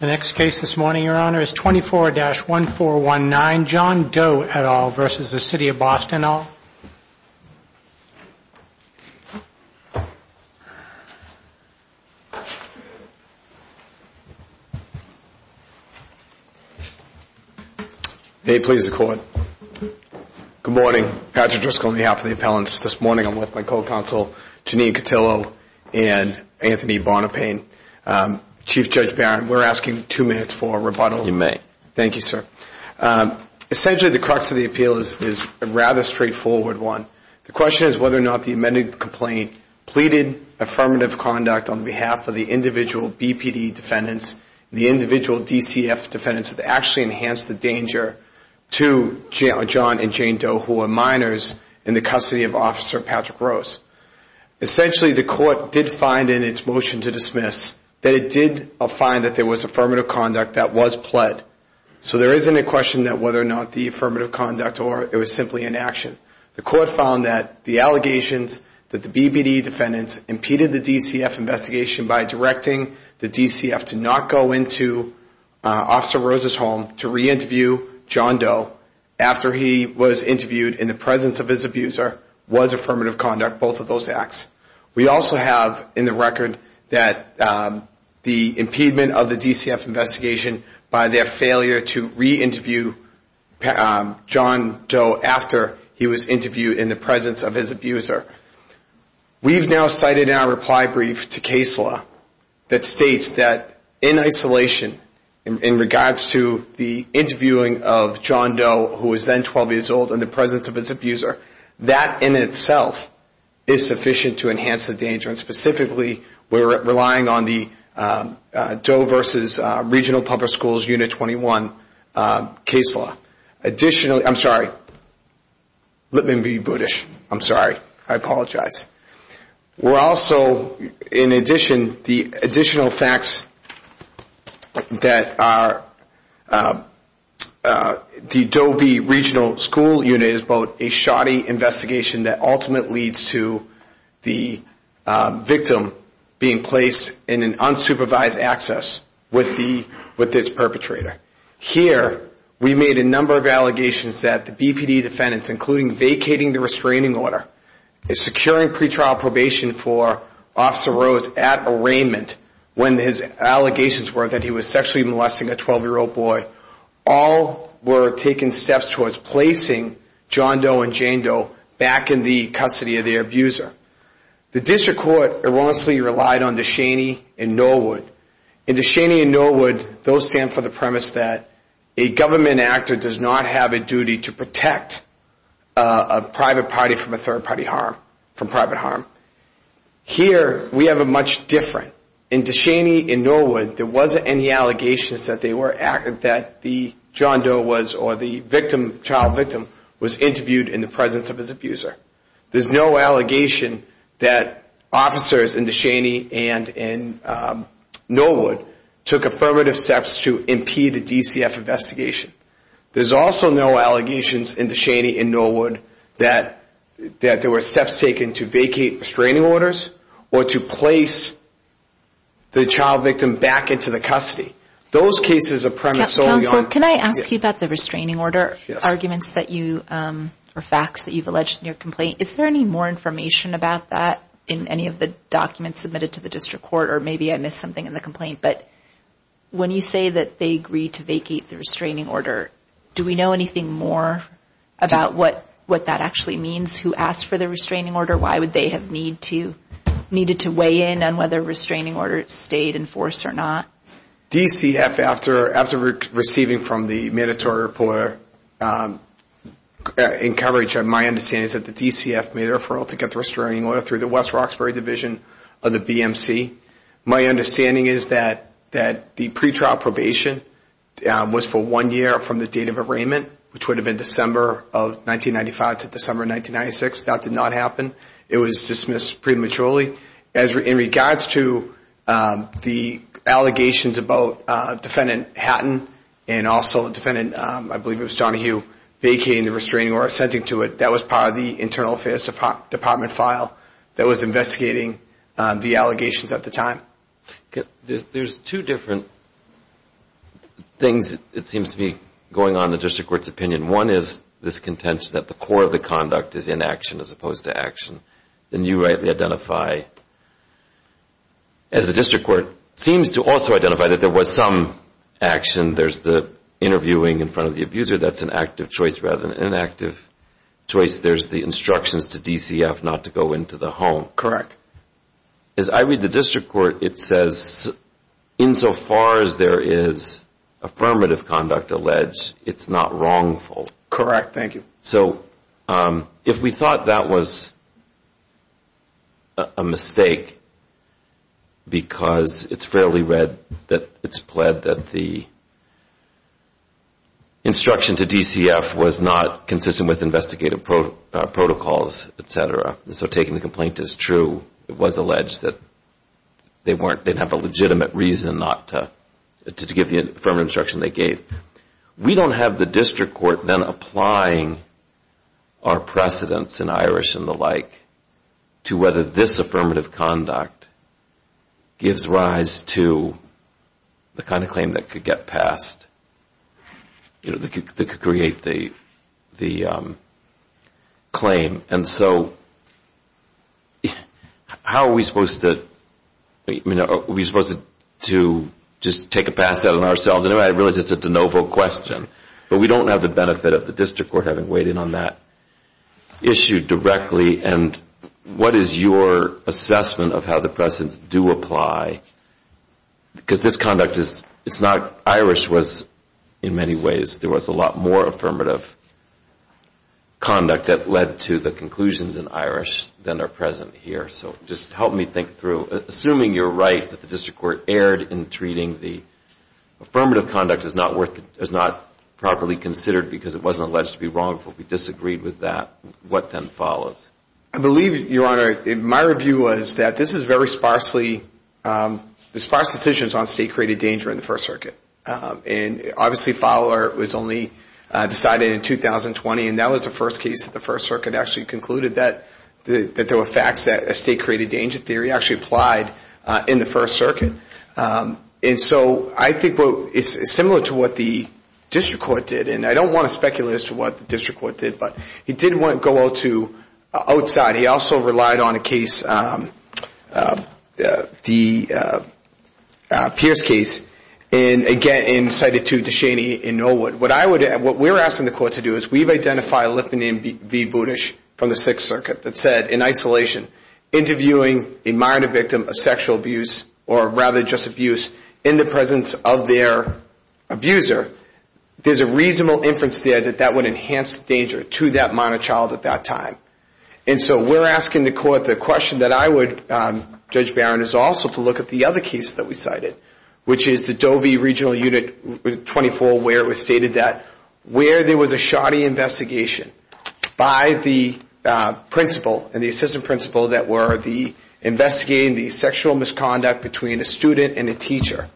The next case this morning, Your Honor, is 24-1419, John Doe et al. v. City of Boston et al. May it please the Court. Good morning. Patrick Driscoll on behalf of the appellants. This morning I'm with my co-counsel Janine Cotillo and Anthony Bonapane. Chief Judge Barron, we're asking two minutes for rebuttal. You may. Thank you, sir. Essentially, the crux of the appeal is a rather straightforward one. The question is whether or not the amended complaint pleaded affirmative conduct on behalf of the individual BPD defendants, the individual DCF defendants that actually enhanced the danger to John and Jane Doe who were minors in the custody of Officer Patrick Rose. Essentially, the Court did find in its motion to dismiss that it did find that there was affirmative conduct that was pled. So there isn't a question that whether or not the affirmative conduct or it was simply inaction. The Court found that the allegations that the BPD defendants impeded the DCF investigation by directing the DCF to not go into Officer Rose's home to reinterview John Doe after he was interviewed in the presence of his abuser was affirmative conduct, both of those acts. We also have in the record that the impediment of the DCF investigation by their failure to reinterview John Doe after he was interviewed in the presence of his abuser. We've now cited in our reply brief to case law that states that in isolation in regards to the interviewing of John Doe who was then 12 years old in the presence of his abuser, that in itself is sufficient to enhance the danger. And specifically, we're relying on the Doe versus Regional Public Schools Unit 21 case law. Additionally, I'm sorry, let me be Buddhist. I'm sorry. I apologize. We're also, in addition, the additional facts that the Doe v. Regional School Unit is both a shoddy investigation that ultimately leads to the victim being placed in an unsupervised access with this perpetrator. Here, we made a number of allegations that the BPD defendants, including vacating the restraining order, securing pretrial probation for Officer Rose at arraignment when his allegations were that he was sexually molesting a 12-year-old boy, all were taking steps towards placing John Doe and Jane Doe back in the custody of the abuser. The district court erroneously relied on DeShaney and Norwood. In DeShaney and Norwood, those stand for the premise that a government actor does not have a duty to protect a private party from a third party harm, from private harm. Here, we have a much different. In DeShaney and Norwood, there wasn't any allegations that they were, that the John Doe was, or the victim, child victim, was interviewed in the presence of his abuser. There's no allegation that officers in DeShaney and Norwood took affirmative steps to impede a DCF investigation. There's also no allegations in DeShaney and Norwood that there were steps taken to vacate restraining orders or to place the child victim back into the custody. Counsel, can I ask you about the restraining order arguments that you, or facts that you've alleged in your complaint? Is there any more information about that in any of the documents submitted to the district court? Or maybe I missed something in the complaint. But when you say that they agreed to vacate the restraining order, do we know anything more about what that actually means? Who asked for the restraining order? Why would they have needed to weigh in on whether a restraining order stayed in force or not? DCF, after receiving from the mandatory reporter in coverage, my understanding is that the DCF made a referral to get the restraining order through the West Roxbury Division of the BMC. My understanding is that the pretrial probation was for one year from the date of arraignment, which would have been December of 1995 to December 1996. That did not happen. It was dismissed prematurely. In regards to the allegations about Defendant Hatton and also Defendant, I believe it was Johnny Hugh, vacating the restraining order or assenting to it, that was part of the internal affairs department file that was investigating the allegations at the time. There's two different things, it seems to be, going on in the district court's opinion. One is this contention that the core of the conduct is inaction as opposed to action. And you rightly identify, as the district court seems to also identify, that there was some action. There's the interviewing in front of the abuser. That's an active choice rather than an inactive choice. There's the instructions to DCF not to go into the home. Correct. As I read the district court, it says, insofar as there is affirmative conduct alleged, it's not wrongful. Correct. Thank you. So if we thought that was a mistake because it's fairly read that it's pled that the instruction to DCF was not consistent with investigative protocols, et cetera, so taking the complaint is true. It was alleged that they didn't have a legitimate reason not to give the affirmative instruction they gave. We don't have the district court then applying our precedents in Irish and the like to whether this affirmative conduct gives rise to the kind of claim that could get passed, that could create the claim. And so how are we supposed to just take a pass at it ourselves? I realize it's a de novo question. But we don't have the benefit of the district court having weighed in on that issue directly. And what is your assessment of how the precedents do apply? Because this conduct is not Irish in many ways. There was a lot more affirmative conduct that led to the conclusions in Irish than are present here. So just help me think through. Assuming you're right that the district court erred in treating the affirmative conduct as not properly considered because it wasn't alleged to be wrongful, we disagreed with that, what then follows? I believe, Your Honor, my review was that this is very sparsely the sparse decisions on state-created danger in the First Circuit. And obviously Fowler was only decided in 2020. And that was the first case that the First Circuit actually concluded that there were facts that a state-created danger theory actually applied in the First Circuit. And so I think it's similar to what the district court did. And I don't want to speculate as to what the district court did, but he didn't go out to outside. He also relied on a case, the Pierce case, and again cited to DeShaney in Norwood. What we're asking the court to do is we've identified Lipton v. Bootish from the Sixth Circuit that said, in isolation, interviewing a minor victim of sexual abuse or rather just abuse in the presence of their abuser, there's a reasonable inference there that that would enhance the danger to that minor child at that time. And so we're asking the court the question that I would, Judge Barron, is also to look at the other cases that we cited, which is the Dovey Regional Unit 24 where it was stated that where there was a shoddy investigation by the principal and the assistant principal that were investigating the sexual misconduct between a student and a teacher,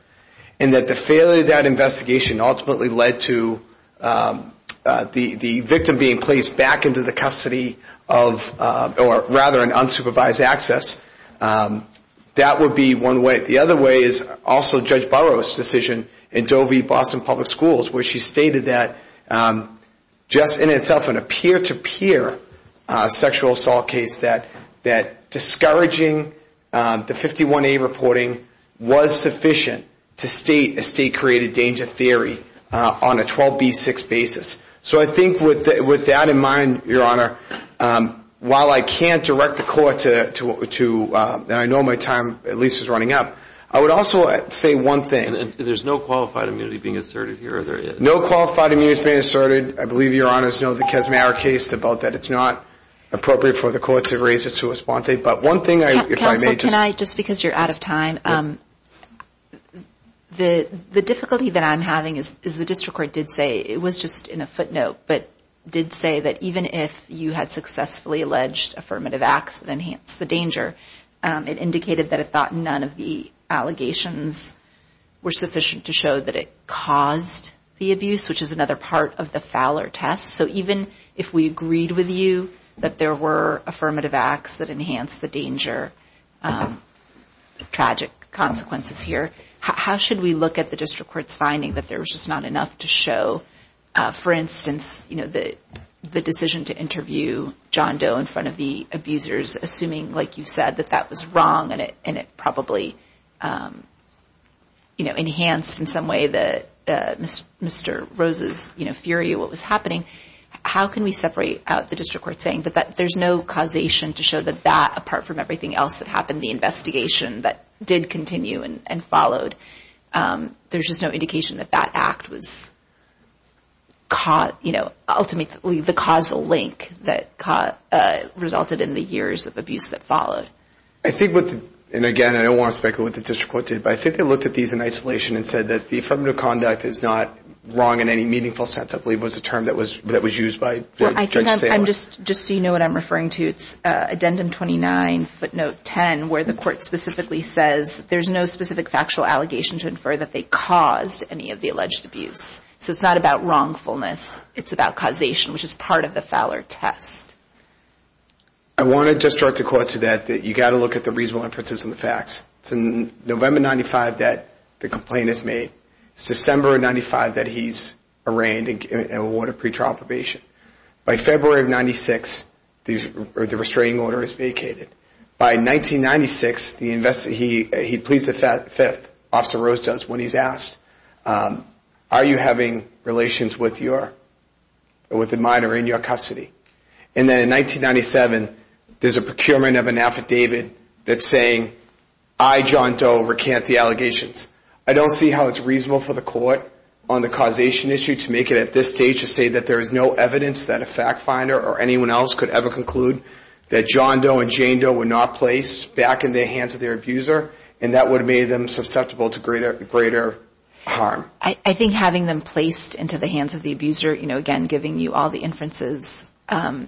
and that the failure of that investigation ultimately led to the victim being placed back into the custody of, or rather an unsupervised access, that would be one way. The other way is also Judge Barron's decision in Dovey-Boston Public Schools where she stated that just in itself in a peer-to-peer sexual assault case that discouraging the 51A reporting was sufficient to state a state-created danger theory on a 12B6 basis. So I think with that in mind, Your Honor, while I can't direct the court to, and I know my time at least is running up, I would also say one thing. And there's no qualified immunity being asserted here? No qualified immunity has been asserted. I believe Your Honor's know the Kessmerer case about that. It's not appropriate for the court to raise it to a sponte. But one thing, if I may just... Counsel, can I, just because you're out of time, the difficulty that I'm having is the district court did say, it was just in a footnote, but did say that even if you had successfully alleged affirmative acts and enhanced the danger, it indicated that it thought none of the allegations were sufficient to show that it caused the abuse, which is another part of the Fowler test. So even if we agreed with you that there were affirmative acts that enhanced the danger, tragic consequences here, how should we look at the district court's finding that there was just not enough to show, for instance, the decision to interview John Doe in front of the abusers, assuming, like you said, that that was wrong and it probably enhanced in some way Mr. Rose's fury at what was happening, how can we separate out the district court saying that there's no causation to show that that, apart from everything else that happened, the investigation that did continue and followed, there's just no indication that that act was ultimately the causal link that resulted in the years of abuse that followed. I think what the, and again, I don't want to speculate what the district court did, but I think they looked at these in isolation and said that the affirmative conduct is not wrong in any meaningful sense, I believe was the term that was used by Judge Sandler. Just so you know what I'm referring to, it's addendum 29, footnote 10, where the court specifically says there's no specific factual allegation to infer that they caused any of the alleged abuse. So it's not about wrongfulness, it's about causation, which is part of the Fowler test. I want to just draw to court to that, that you've got to look at the reasonable inferences and the facts. It's in November of 95 that the complaint is made. It's December of 95 that he's arraigned and awarded pretrial probation. By February of 96, the restraining order is vacated. By 1996, he pleads the fifth, Officer Rose does, when he's asked, are you having relations with the minor in your custody? And then in 1997, there's a procurement of an affidavit that's saying, I, John Doe, recant the allegations. I don't see how it's reasonable for the court on the causation issue to make it at this stage to say that there is no evidence that a fact finder or anyone else could ever conclude that John Doe and Jane Doe were not placed back in the hands of their abuser and that would have made them susceptible to greater harm. I think having them placed into the hands of the abuser, again, giving you all the inferences, I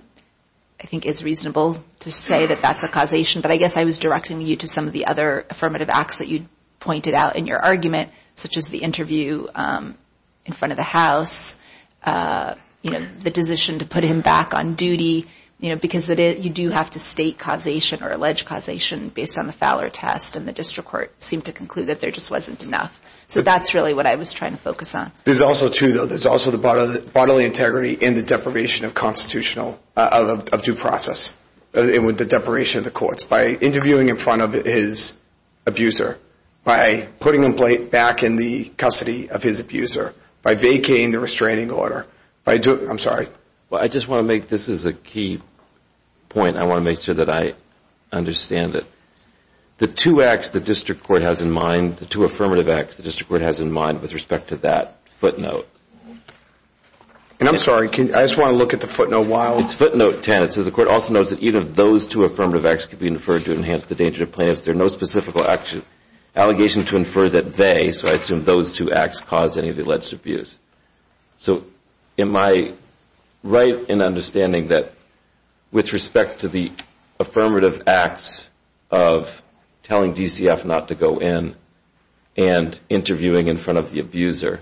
think is reasonable to say that that's a causation. But I guess I was directing you to some of the other affirmative acts that you pointed out in your argument, such as the interview in front of the House, the decision to put him back on duty, because you do have to state causation or allege causation based on the Fowler test and the district court seemed to conclude that there just wasn't enough. So that's really what I was trying to focus on. There's also two, though. There's also the bodily integrity and the deprivation of constitutional, of due process, and with the deprivation of the courts. By interviewing in front of his abuser, by putting him back in the custody of his abuser, by vacating the restraining order, by doing, I'm sorry. Well, I just want to make this as a key point. I want to make sure that I understand it. The two acts the district court has in mind, the two affirmative acts the district court has in mind with respect to that footnote. And I'm sorry. I just want to look at the footnote while. It's footnote 10. It says the court also knows that even if those two affirmative acts could be inferred to enhance the danger to plaintiffs, there are no specific allegations to infer that they, so I assume those two acts, caused any of the alleged abuse. So am I right in understanding that with respect to the affirmative acts of telling DCF not to go in and interviewing in front of the abuser,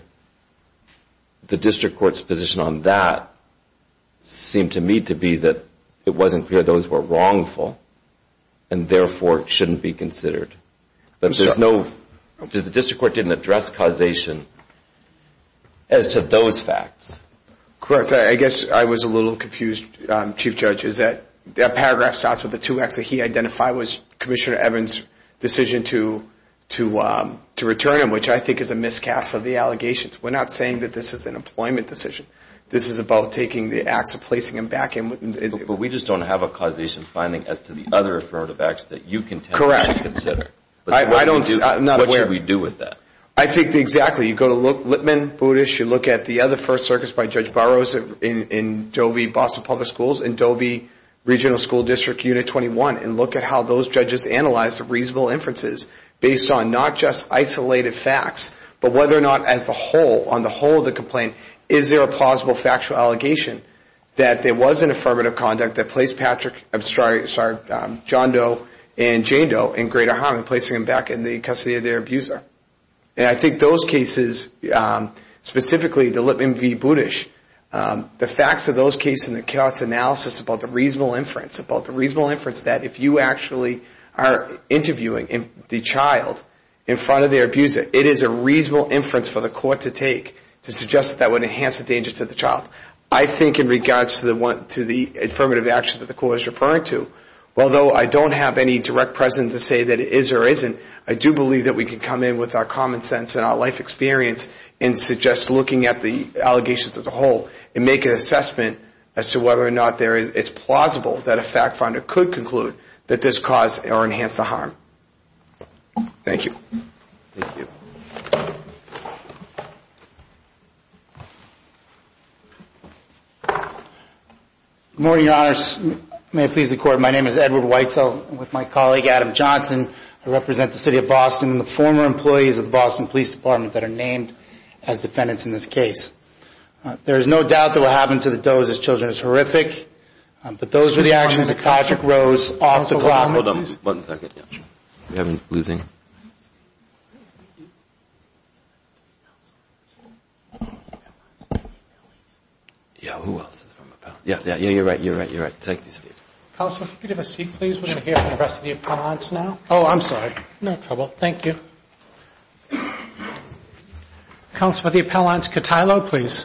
the district court's position on that seemed to me to be that it wasn't clear those were wrongful and therefore shouldn't be considered. I'm sorry. But there's no, the district court didn't address causation as to those facts. Correct. I guess I was a little confused, Chief Judge, is that paragraph starts with the two acts that he identified was Commissioner Evans' decision to return him, which I think is a miscast of the allegations. We're not saying that this is an employment decision. This is about taking the acts and placing them back in. But we just don't have a causation finding as to the other affirmative acts that you contend to consider. I don't see, I'm not aware. What should we do with that? I think exactly. You go to Lipman, Boudish, you look at the other first circuits by Judge Burroughs in Dovey, Boston Public Schools, in Dovey Regional School District Unit 21, and look at how those judges analyzed the reasonable inferences based on not just isolated facts, but whether or not as a whole, on the whole of the complaint, is there a plausible factual allegation that there was an affirmative conduct that placed John Doe and Jane Doe in greater harm than placing them back in the custody of their abuser. And I think those cases, specifically the Lipman v. Boudish, the facts of those cases and the court's analysis about the reasonable inference, about the reasonable inference that if you actually are interviewing the child in front of their abuser, it is a reasonable inference for the court to take to suggest that that would enhance the danger to the child. I think in regards to the affirmative action that the court is referring to, although I don't have any direct presence to say that it is or isn't, I do believe that we can come in with our common sense and our life experience and suggest looking at the allegations as a whole and make an assessment as to whether or not it's plausible that a fact finder could conclude that this caused or enhanced the harm. Thank you. Thank you. Good morning, Your Honors. May it please the Court, my name is Edward Whitesell. I'm with my colleague Adam Johnson. I represent the City of Boston and the former employees of the Boston Police Department that are named as defendants in this case. There is no doubt that what happened to the Doe's children is horrific, but those were the actions of Patrick Rose off the block. Hold on one second. We're losing. Yeah, who else is from Appell? Yeah, yeah, you're right, you're right, you're right. Thank you, Steve. Counselor, if you could have a seat, please. We're going to hear from the rest of the appellants now. Oh, I'm sorry. No trouble. Thank you. Counselor, the appellants, Cotillo, please.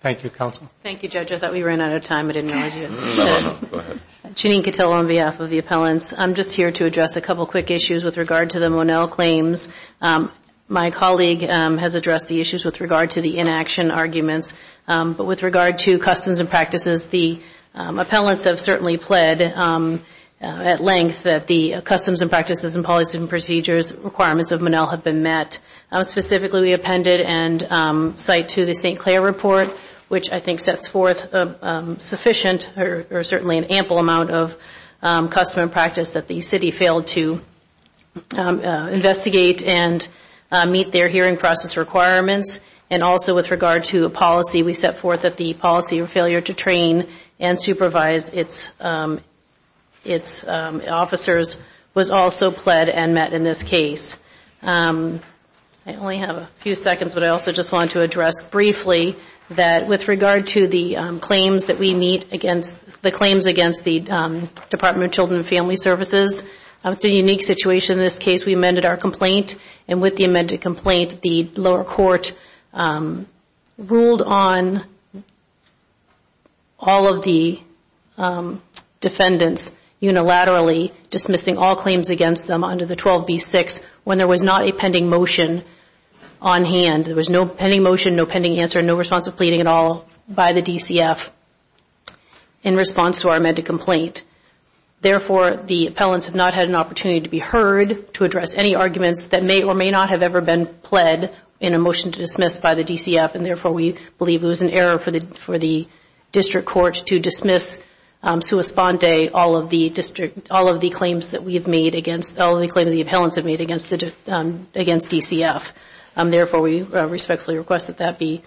Thank you, Counsel. Thank you, Judge. I thought we ran out of time. I didn't realize you had something to say. Go ahead. Jeanine Cotillo on behalf of the appellants. I'm just here to address a couple quick issues with regard to the Monell claims. My colleague has addressed the issues with regard to the inaction arguments, but with regard to customs and practices, the appellants have certainly pled at length that the customs and practices and policy and procedures requirements of Monell have been met. Specifically, we appended and cite to the St. Clair report, which I think sets forth sufficient or certainly an ample amount of custom and practice that the city failed to investigate and meet their hearing process requirements. And also with regard to policy, we set forth that the policy of failure to train and supervise its officers was also pled and met in this case. I only have a few seconds, but I also just wanted to address briefly that with regard to the claims that we meet against the claims against the Department of Children and Family Services, it's a unique situation in this case. We amended our complaint, and with the amended complaint, the lower court ruled on all of the defendants unilaterally, dismissing all claims against them under the 12B6 when there was not a pending motion on hand. There was no pending motion, no pending answer, no response to pleading at all by the DCF in response to our amended complaint. Therefore, the appellants have not had an opportunity to be heard to address any arguments that may or may not have ever been pled in a motion to dismiss by the DCF, and therefore we believe it was an error for the district court to dismiss all of the claims that the appellants have made against DCF. Therefore, we respectfully request that that be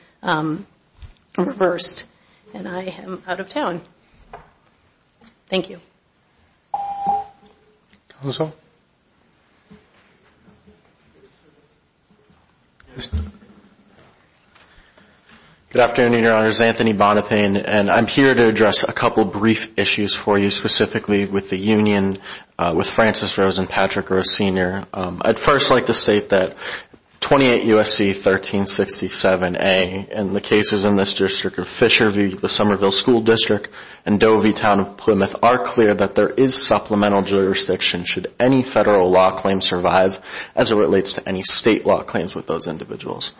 reversed. And I am out of town. Thank you. Counsel? Good afternoon, Your Honors. My name is Anthony Bonapane, and I'm here to address a couple of brief issues for you, specifically with the union, with Francis Rosenpatrick, our senior. I'd first like to state that 28 U.S.C. 1367A, and the cases in this district of Fisherville, the Somerville School District, and Doveytown of Plymouth are clear that there is supplemental jurisdiction should any federal law claim survive as it relates to any state law claims with those individuals.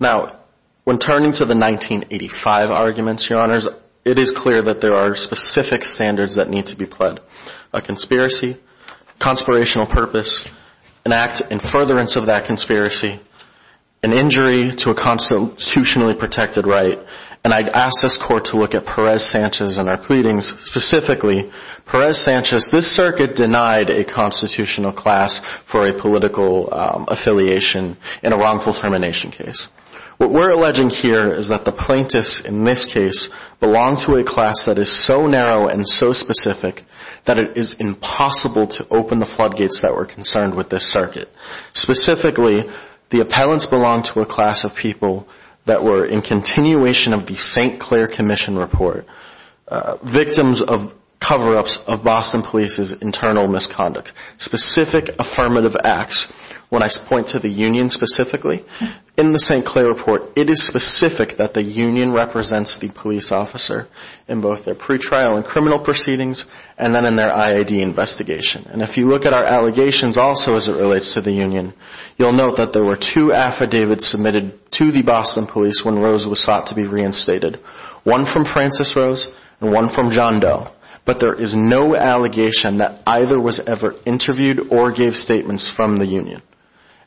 Now, when turning to the 1985 arguments, Your Honors, it is clear that there are specific standards that need to be pled, a conspiracy, conspirational purpose, an act in furtherance of that conspiracy, an injury to a constitutionally protected right, and I'd ask this court to look at Perez-Sanchez and our pleadings. Specifically, Perez-Sanchez, this circuit denied a constitutional class for a political affiliation in a wrongful termination case. What we're alleging here is that the plaintiffs in this case belong to a class that is so narrow and so specific that it is impossible to open the floodgates that were concerned with this circuit. Specifically, the appellants belong to a class of people that were in continuation of the St. Clair Commission Report, victims of cover-ups of Boston Police's internal misconduct, specific affirmative acts. When I point to the union specifically, in the St. Clair Report, it is specific that the union represents the police officer in both their pre-trial and criminal proceedings and then in their IID investigation. And if you look at our allegations also as it relates to the union, you'll note that there were two affidavits submitted to the Boston Police when Rose was sought to be reinstated, one from Frances Rose and one from John Doe, but there is no allegation that either was ever interviewed or gave statements from the union.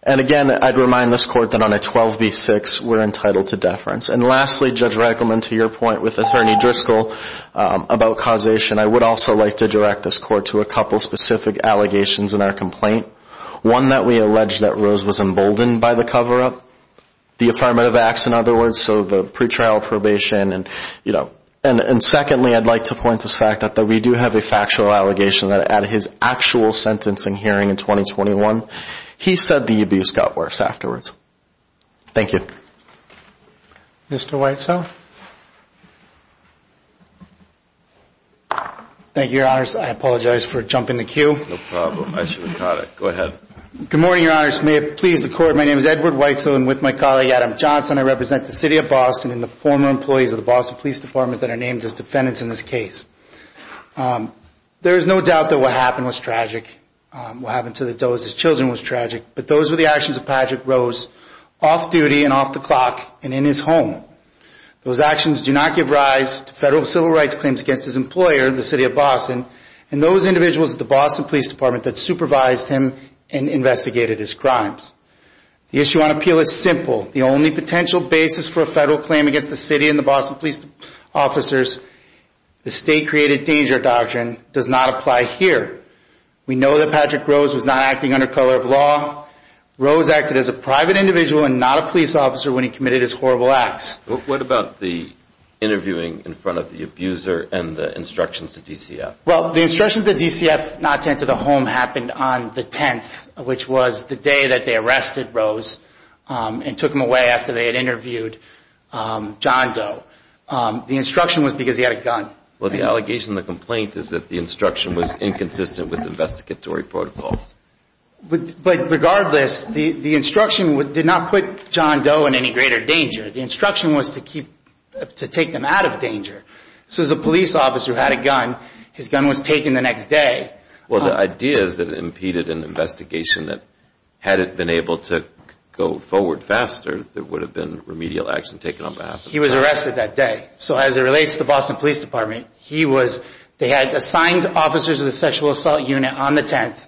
And again, I'd remind this Court that on a 12b-6, we're entitled to deference. And lastly, Judge Reichelman, to your point with Attorney Driscoll about causation, I would also like to direct this Court to a couple specific allegations in our complaint, one that we allege that Rose was emboldened by the cover-up, the affirmative acts in other words, so the pre-trial probation. And secondly, I'd like to point this fact out that we do have a factual allegation that at his actual sentencing hearing in 2021, he said the abuse got worse afterwards. Thank you. Mr. Whitesell? Thank you, Your Honors. I apologize for jumping the queue. No problem. I should have caught it. Go ahead. Good morning, Your Honors. May it please the Court, my name is Edward Whitesell and with my colleague, Adam Johnson, I represent the City of Boston and the former employees of the Boston Police Department that are named as defendants in this case. There is no doubt that what happened was tragic, what happened to the Doe's children was tragic, but those were the actions of Patrick Rose off-duty and off-the-clock and in his home. Those actions do not give rise to federal civil rights claims against his employer, the City of Boston, and those individuals at the Boston Police Department that supervised him and investigated his crimes. The issue on appeal is simple. The only potential basis for a federal claim against the City and the Boston police officers, the state-created danger doctrine, does not apply here. We know that Patrick Rose was not acting under color of law. Rose acted as a private individual and not a police officer when he committed his horrible acts. What about the interviewing in front of the abuser and the instructions to DCF? Well, the instructions to DCF not to enter the home happened on the 10th, which was the day that they arrested Rose and took him away after they had interviewed John Doe. The instruction was because he had a gun. Well, the allegation in the complaint is that the instruction was inconsistent with investigatory protocols. But regardless, the instruction did not put John Doe in any greater danger. The instruction was to take him out of danger. So as a police officer who had a gun, his gun was taken the next day. Well, the idea is that it impeded an investigation that, had it been able to go forward faster, there would have been remedial action taken on behalf of the person. He was arrested that day. So as it relates to the Boston Police Department, they had assigned officers of the sexual assault unit on the 10th.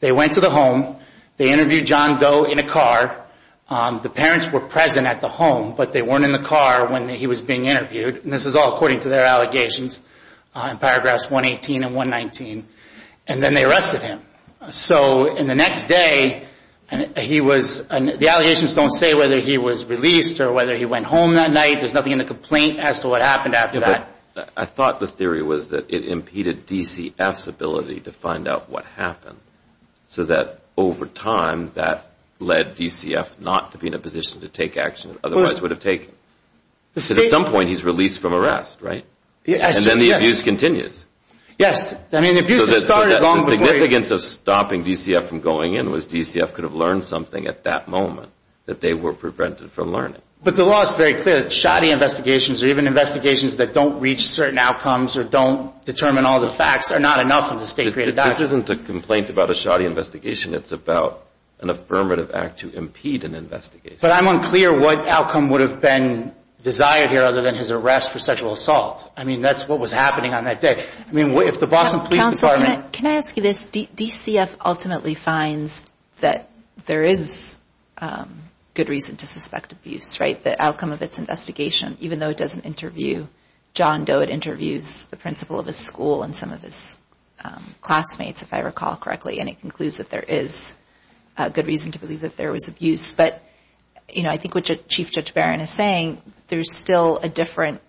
They went to the home. They interviewed John Doe in a car. The parents were present at the home, but they weren't in the car when he was being interviewed. And this is all according to their allegations in paragraphs 118 and 119. And then they arrested him. So in the next day, he was – the allegations don't say whether he was released or whether he went home that night. There's nothing in the complaint as to what happened after that. I thought the theory was that it impeded DCF's ability to find out what happened, so that over time that led DCF not to be in a position to take action it otherwise would have taken. At some point, he's released from arrest, right? And then the abuse continues. Yes. I mean, abuse has started long before. The significance of stopping DCF from going in was DCF could have learned something at that moment that they were prevented from learning. But the law is very clear that shoddy investigations or even investigations that don't reach certain outcomes or don't determine all the facts are not enough of a state-created action. This isn't a complaint about a shoddy investigation. It's about an affirmative act to impede an investigation. But I'm unclear what outcome would have been desired here other than his arrest for sexual assault. I mean, that's what was happening on that day. I mean, if the Boston Police Department – Counsel, can I ask you this? DCF ultimately finds that there is good reason to suspect abuse, right? The outcome of its investigation, even though it doesn't interview John Doe, it interviews the principal of his school and some of his classmates, if I recall correctly, and it concludes that there is a good reason to believe that there was abuse. But, you know, I think what Chief Judge Barron is saying, there's still a different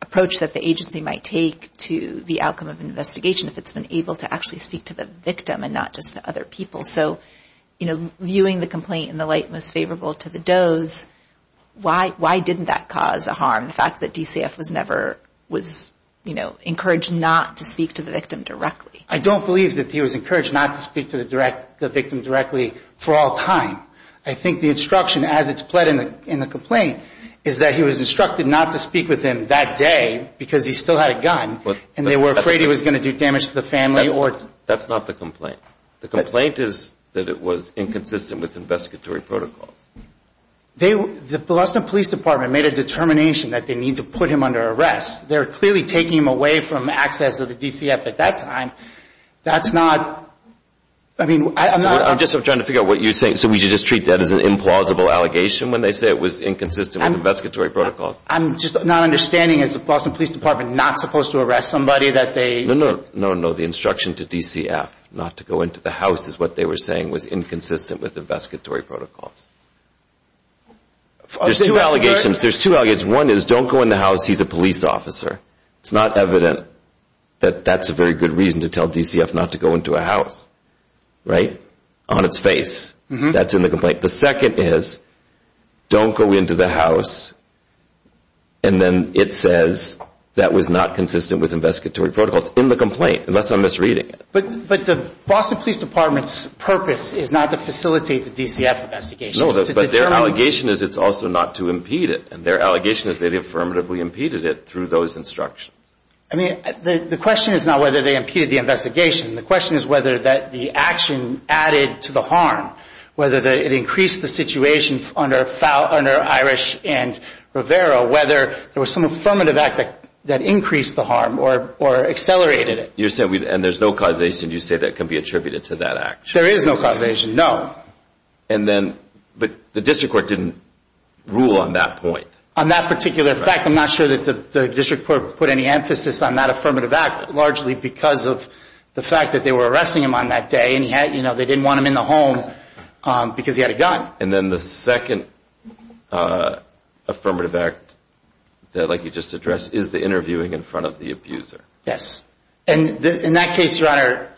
approach that the agency might take to the outcome of an investigation if it's been able to actually speak to the victim and not just to other people. So, you know, viewing the complaint in the light most favorable to the Does, why didn't that cause a harm, the fact that DCF was never – was, you know, encouraged not to speak to the victim directly? I don't believe that he was encouraged not to speak to the victim directly for all time. I think the instruction, as it's pled in the complaint, is that he was instructed not to speak with him that day because he still had a gun and they were afraid he was going to do damage to the family or – That's not the complaint. The complaint is that it was inconsistent with investigatory protocols. The Boston Police Department made a determination that they need to put him under arrest. They're clearly taking him away from access to the DCF at that time. That's not – I mean, I'm not – I'm just trying to figure out what you're saying. So we should just treat that as an implausible allegation when they say it was inconsistent with investigatory protocols? I'm just not understanding. Is the Boston Police Department not supposed to arrest somebody that they – No, no. No, no. The instruction to DCF not to go into the house is what they were saying was inconsistent with investigatory protocols. There's two allegations. There's two allegations. One is don't go in the house. He's a police officer. It's not evident that that's a very good reason to tell DCF not to go into a house, right, on its face. That's in the complaint. The second is don't go into the house, and then it says that was not consistent with investigatory protocols in the complaint, unless I'm misreading it. But the Boston Police Department's purpose is not to facilitate the DCF investigations. No, but their allegation is it's also not to impede it, and their allegation is they affirmatively impeded it through those instructions. I mean, the question is not whether they impeded the investigation. The question is whether the action added to the harm, whether it increased the situation under Irish and Rivera, whether there was some affirmative act that increased the harm or accelerated it. And there's no causation you say that can be attributed to that action? There is no causation, no. But the district court didn't rule on that point. On that particular fact, I'm not sure that the district court put any emphasis on that affirmative act, largely because of the fact that they were arresting him on that day, and they didn't want him in the home because he had a gun. And then the second affirmative act, like you just addressed, is the interviewing in front of the abuser. Yes, and in that case, Your Honor,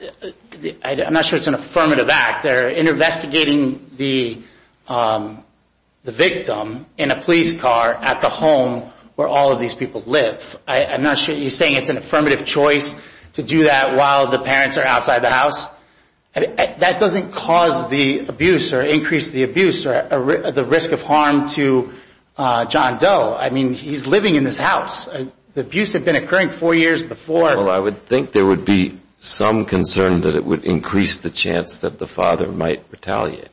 I'm not sure it's an affirmative act. They're investigating the victim in a police car at the home where all of these people live. I'm not sure you're saying it's an affirmative choice to do that while the parents are outside the house. That doesn't cause the abuse or increase the abuse or the risk of harm to John Doe. I mean, he's living in this house. The abuse had been occurring four years before. Well, I would think there would be some concern that it would increase the chance that the father might retaliate.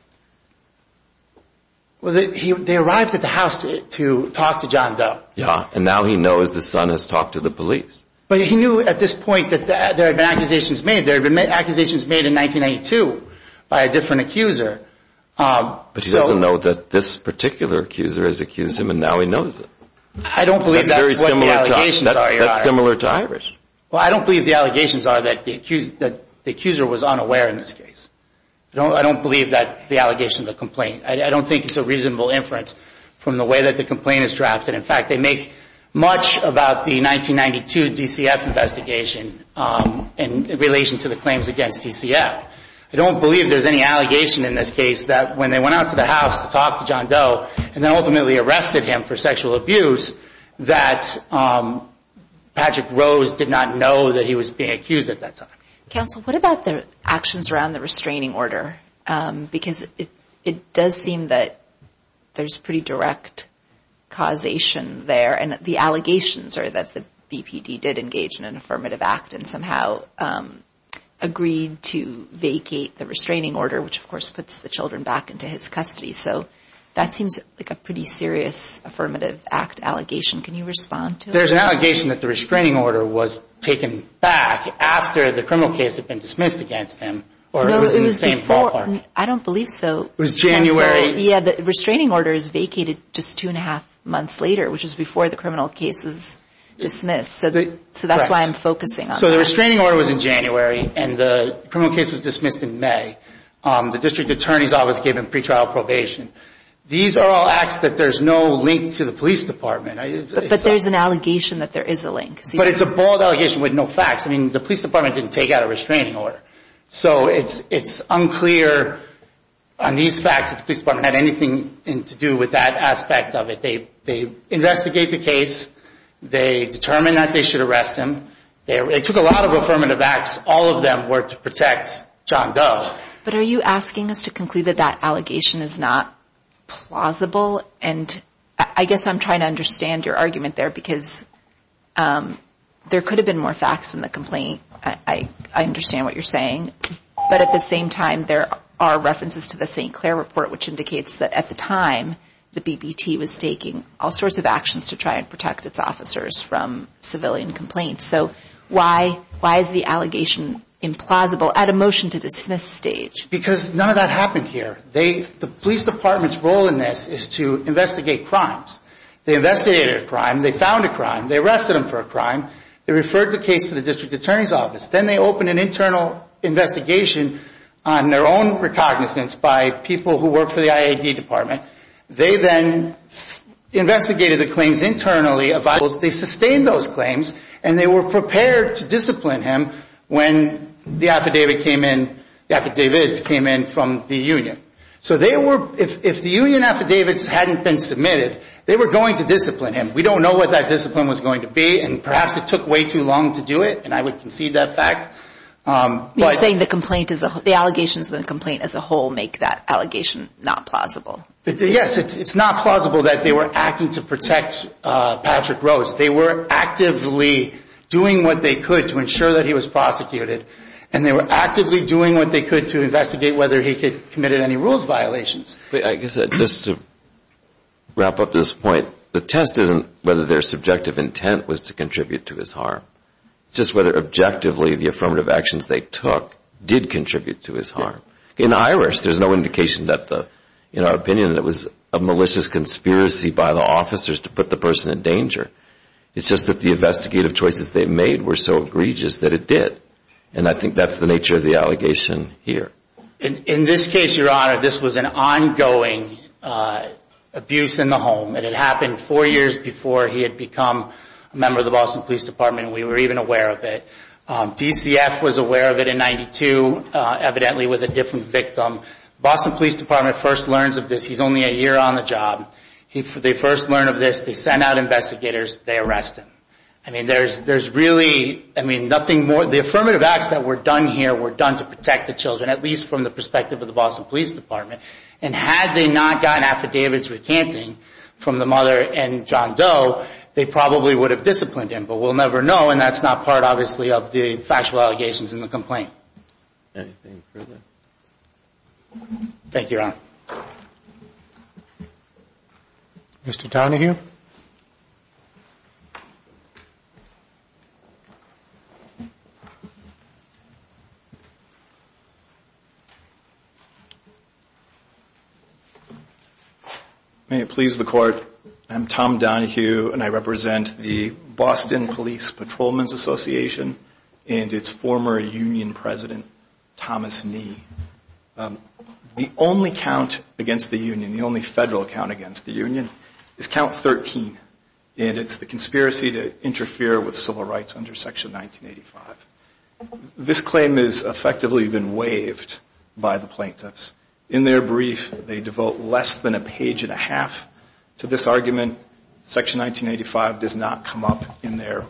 Well, they arrived at the house to talk to John Doe. Yeah, and now he knows the son has talked to the police. But he knew at this point that there had been accusations made. There had been accusations made in 1992 by a different accuser. But he doesn't know that this particular accuser has accused him, and now he knows it. I don't believe that's what the allegations are, Your Honor. That's similar to Irish. Well, I don't believe the allegations are that the accuser was unaware in this case. I don't believe that's the allegation of the complaint. I don't think it's a reasonable inference from the way that the complaint is drafted. In fact, they make much about the 1992 DCF investigation in relation to the claims against DCF. I don't believe there's any allegation in this case that when they went out to the house to talk to John Doe and then ultimately arrested him for sexual abuse, that Patrick Rose did not know that he was being accused at that time. Counsel, what about the actions around the restraining order? Because it does seem that there's pretty direct causation there. And the allegations are that the BPD did engage in an affirmative act and somehow agreed to vacate the restraining order, which, of course, puts the children back into his custody. So that seems like a pretty serious affirmative act allegation. Can you respond to it? There's an allegation that the restraining order was taken back after the criminal case had been dismissed against him. No, it was before. I don't believe so. It was January. Yeah, the restraining order is vacated just two and a half months later, which is before the criminal case is dismissed. So that's why I'm focusing on that. So the restraining order was in January, and the criminal case was dismissed in May. The district attorney's office gave him pretrial probation. These are all acts that there's no link to the police department. But there's an allegation that there is a link. But it's a bold allegation with no facts. I mean, the police department didn't take out a restraining order. So it's unclear on these facts that the police department had anything to do with that aspect of it. They investigated the case. They determined that they should arrest him. They took a lot of affirmative acts. All of them were to protect John Doe. But are you asking us to conclude that that allegation is not plausible? And I guess I'm trying to understand your argument there because there could have been more facts in the complaint. I understand what you're saying. But at the same time, there are references to the St. Clair report, which indicates that at the time, the BBT was taking all sorts of actions to try and protect its officers from civilian complaints. So why is the allegation implausible at a motion-to-dismiss stage? Because none of that happened here. The police department's role in this is to investigate crimes. They investigated a crime. They found a crime. They arrested him for a crime. They referred the case to the district attorney's office. Then they opened an internal investigation on their own recognizance by people who work for the IAD department. They then investigated the claims internally. They sustained those claims, and they were prepared to discipline him when the affidavits came in from the union. So if the union affidavits hadn't been submitted, they were going to discipline him. We don't know what that discipline was going to be, and perhaps it took way too long to do it, and I would concede that fact. You're saying the allegations in the complaint as a whole make that allegation not plausible. Yes, it's not plausible that they were acting to protect Patrick Rose. They were actively doing what they could to ensure that he was prosecuted, and they were actively doing what they could to investigate whether he committed any rules violations. Just to wrap up this point, the test isn't whether their subjective intent was to contribute to his harm. It's just whether objectively the affirmative actions they took did contribute to his harm. In Irish, there's no indication in our opinion that it was a malicious conspiracy by the officers to put the person in danger. It's just that the investigative choices they made were so egregious that it did, and I think that's the nature of the allegation here. In this case, Your Honor, this was an ongoing abuse in the home. It had happened four years before he had become a member of the Boston Police Department, and we were even aware of it. DCF was aware of it in 92, evidently with a different victim. Boston Police Department first learns of this. He's only a year on the job. They first learn of this. They send out investigators. They arrest him. I mean, there's really nothing more. The affirmative acts that were done here were done to protect the children, at least from the perspective of the Boston Police Department, and had they not gotten affidavits recanting from the mother and John Doe, they probably would have disciplined him, but we'll never know, and that's not part, obviously, of the factual allegations in the complaint. Anything further? Thank you, Your Honor. Mr. Donahue? May it please the Court, I'm Tom Donahue, and I represent the Boston Police Patrolman's Association and its former union president, Thomas Nee. The only count against the union, the only federal count against the union, is count 13, and it's the conspiracy to interfere with civil rights under section 1985. This claim has effectively been waived by the plaintiffs. In their brief, they devote less than a page and a half to this argument. Section 1985 does not come up in their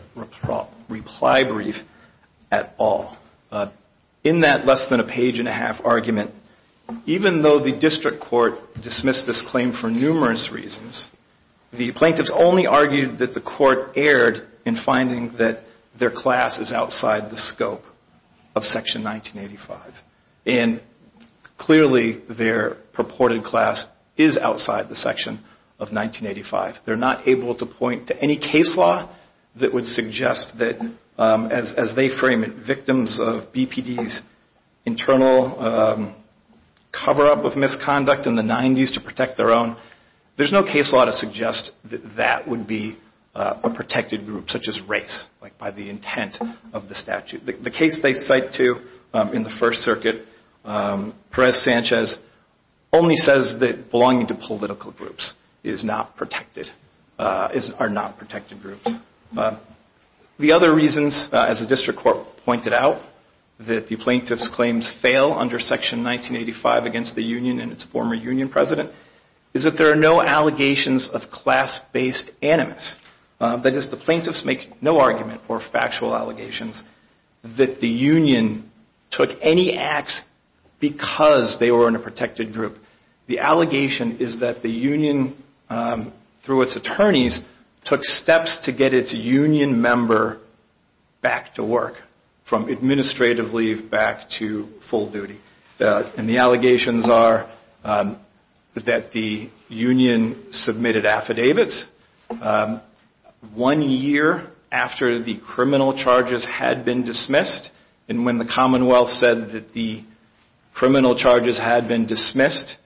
reply brief at all. In that less than a page and a half argument, even though the district court dismissed this claim for numerous reasons, the plaintiffs only argued that the court erred in finding that their class is outside the scope of section 1985, and clearly their purported class is outside the section of 1985. They're not able to point to any case law that would suggest that, as they frame it, victims of BPD's internal cover-up of misconduct in the 90s to protect their own. There's no case law to suggest that that would be a protected group, such as race, like by the intent of the statute. The case they cite, too, in the First Circuit, Perez-Sanchez, only says that belonging to political groups are not protected groups. The other reasons, as the district court pointed out, that the plaintiffs' claims fail under section 1985 against the union and its former union president is that there are no allegations of class-based animus. That is, the plaintiffs make no argument or factual allegations that the union took any acts because they were in a protected group. The allegation is that the union, through its attorneys, took steps to get its union member back to work, from administrative leave back to full duty. And the allegations are that the union submitted affidavits one year after the criminal charges had been dismissed, and when the Commonwealth said that the criminal charges had been dismissed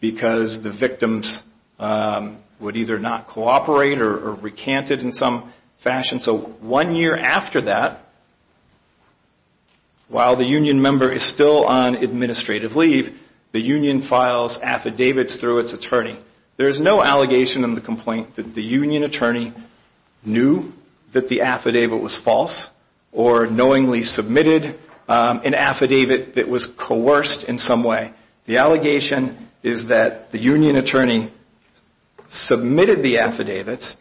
because the victims would either not cooperate or recant it in some fashion. So one year after that, while the union member is still on administrative leave, the union files affidavits through its attorney. There is no allegation in the complaint that the union attorney knew that the affidavit was false or knowingly submitted an affidavit that was coerced in some way. The allegation is that the union attorney submitted the affidavits,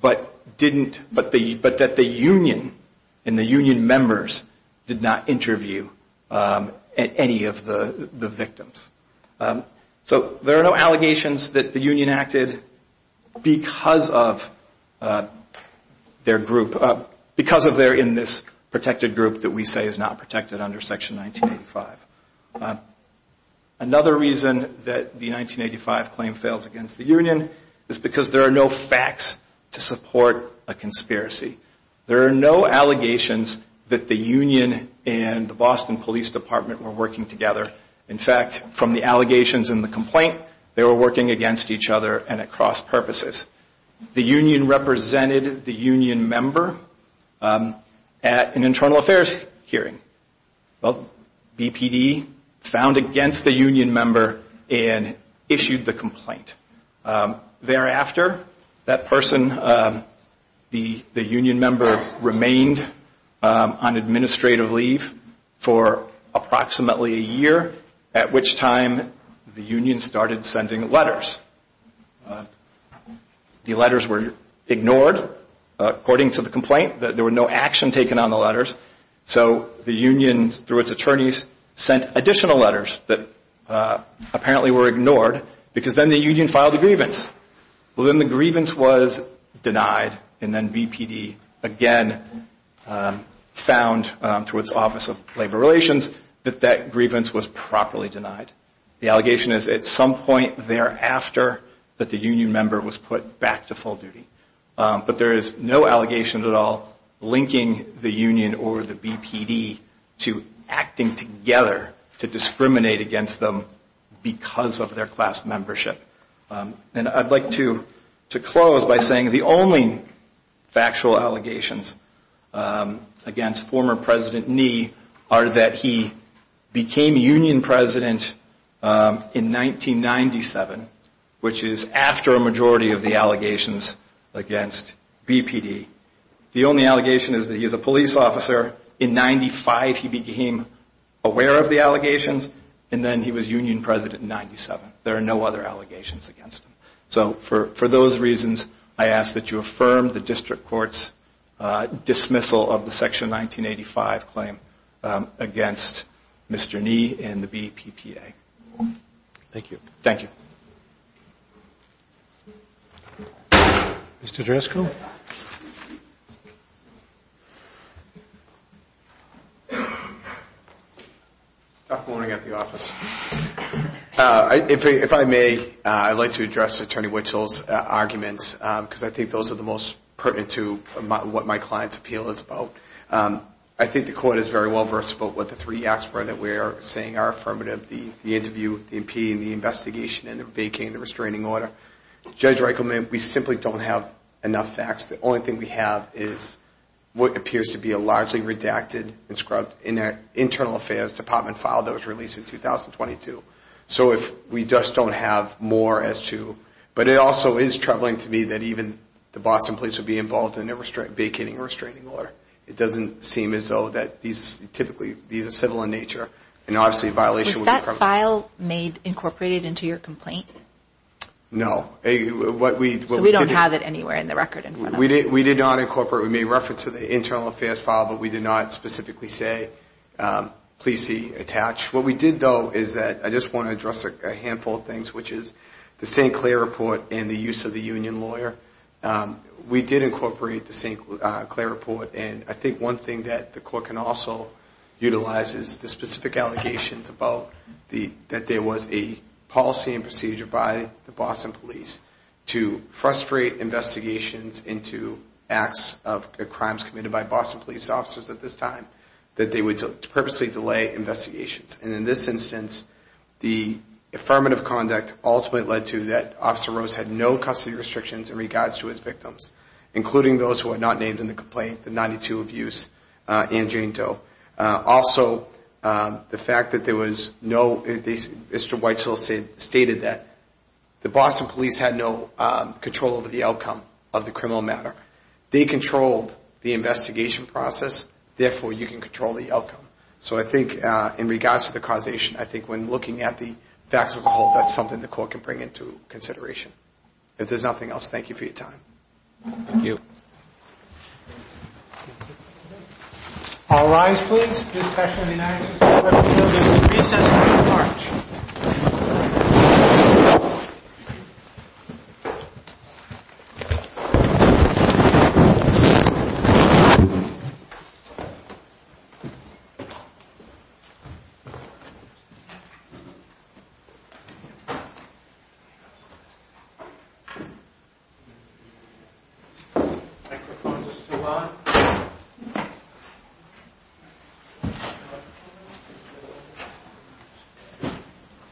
but that the union and the union members did not interview any of the victims. So there are no allegations that the union acted because they're in this protected group that we say is not protected under Section 1985. Another reason that the 1985 claim fails against the union is because there are no facts to support a conspiracy. There are no allegations that the union and the Boston Police Department were working together. In fact, from the allegations in the complaint, they were working against each other and at cross purposes. The union represented the union member at an internal affairs hearing. Well, BPD found against the union member and issued the complaint. Thereafter, that person, the union member, remained on administrative leave for approximately a year, at which time the union started sending letters. The letters were ignored according to the complaint. There was no action taken on the letters. So the union, through its attorneys, sent additional letters that apparently were ignored because then the union filed a grievance. Well, then the grievance was denied, and then BPD again found through its Office of Labor Relations that that grievance was properly denied. The allegation is at some point thereafter that the union member was put back to full duty. But there is no allegation at all linking the union or the BPD to acting together to discriminate against them because of their class membership. And I'd like to close by saying the only factual allegations against former President Nee are that he became union president in 1997, which is after a majority of the allegations against BPD. The only allegation is that he is a police officer. In 1995, he became aware of the allegations, and then he was union president in 1997. There are no other allegations against him. So for those reasons, I ask that you affirm the district court's dismissal of the Section 1985 claim against Mr. Nee and the BPPA. Thank you. Thank you. Mr. Driscoll. Dr. Monaghan at the office. If I may, I'd like to address Attorney Witzel's arguments because I think those are the most pertinent to what my client's appeal is about. I think the court is very well versed about what the three acts were that we are saying are affirmative, the interview, the impeding, the investigation, and the vacating the restraining order. Judge Reichelman, we simply don't have enough facts. The only thing we have is what appears to be a largely redacted and scrubbed internal affairs department file that was released in 2022. So we just don't have more as to. But it also is troubling to me that even the Boston police would be involved in a vacating or restraining order. It doesn't seem as though that these typically, these are civil in nature, and obviously a violation would be prevalent. Was that file made, incorporated into your complaint? No. So we don't have it anywhere in the record? We did not incorporate it. We made reference to the internal affairs file, but we did not specifically say, please see attached. What we did, though, is that I just want to address a handful of things, which is the St. Clair report and the use of the union lawyer. We did incorporate the St. Clair report, and I think one thing that the court can also utilize is the specific allegations about that there was a policy and procedure by the Boston police to frustrate investigations into acts of crimes committed by Boston police officers at this time, that they would purposely delay investigations. And in this instance, the affirmative conduct ultimately led to that Officer Rose had no custody restrictions in regards to his victims, including those who are not named in the complaint, the 92 abuse and Jane Doe. Also, the fact that there was no Mr. Whitesell stated that the Boston police had no control over the outcome of the criminal matter. They controlled the investigation process. Therefore, you can control the outcome. So I think in regards to the causation, I think when looking at the facts of the whole, that's something the court can bring into consideration. If there's nothing else, thank you for your time. Thank you. All rise, please. Thank you.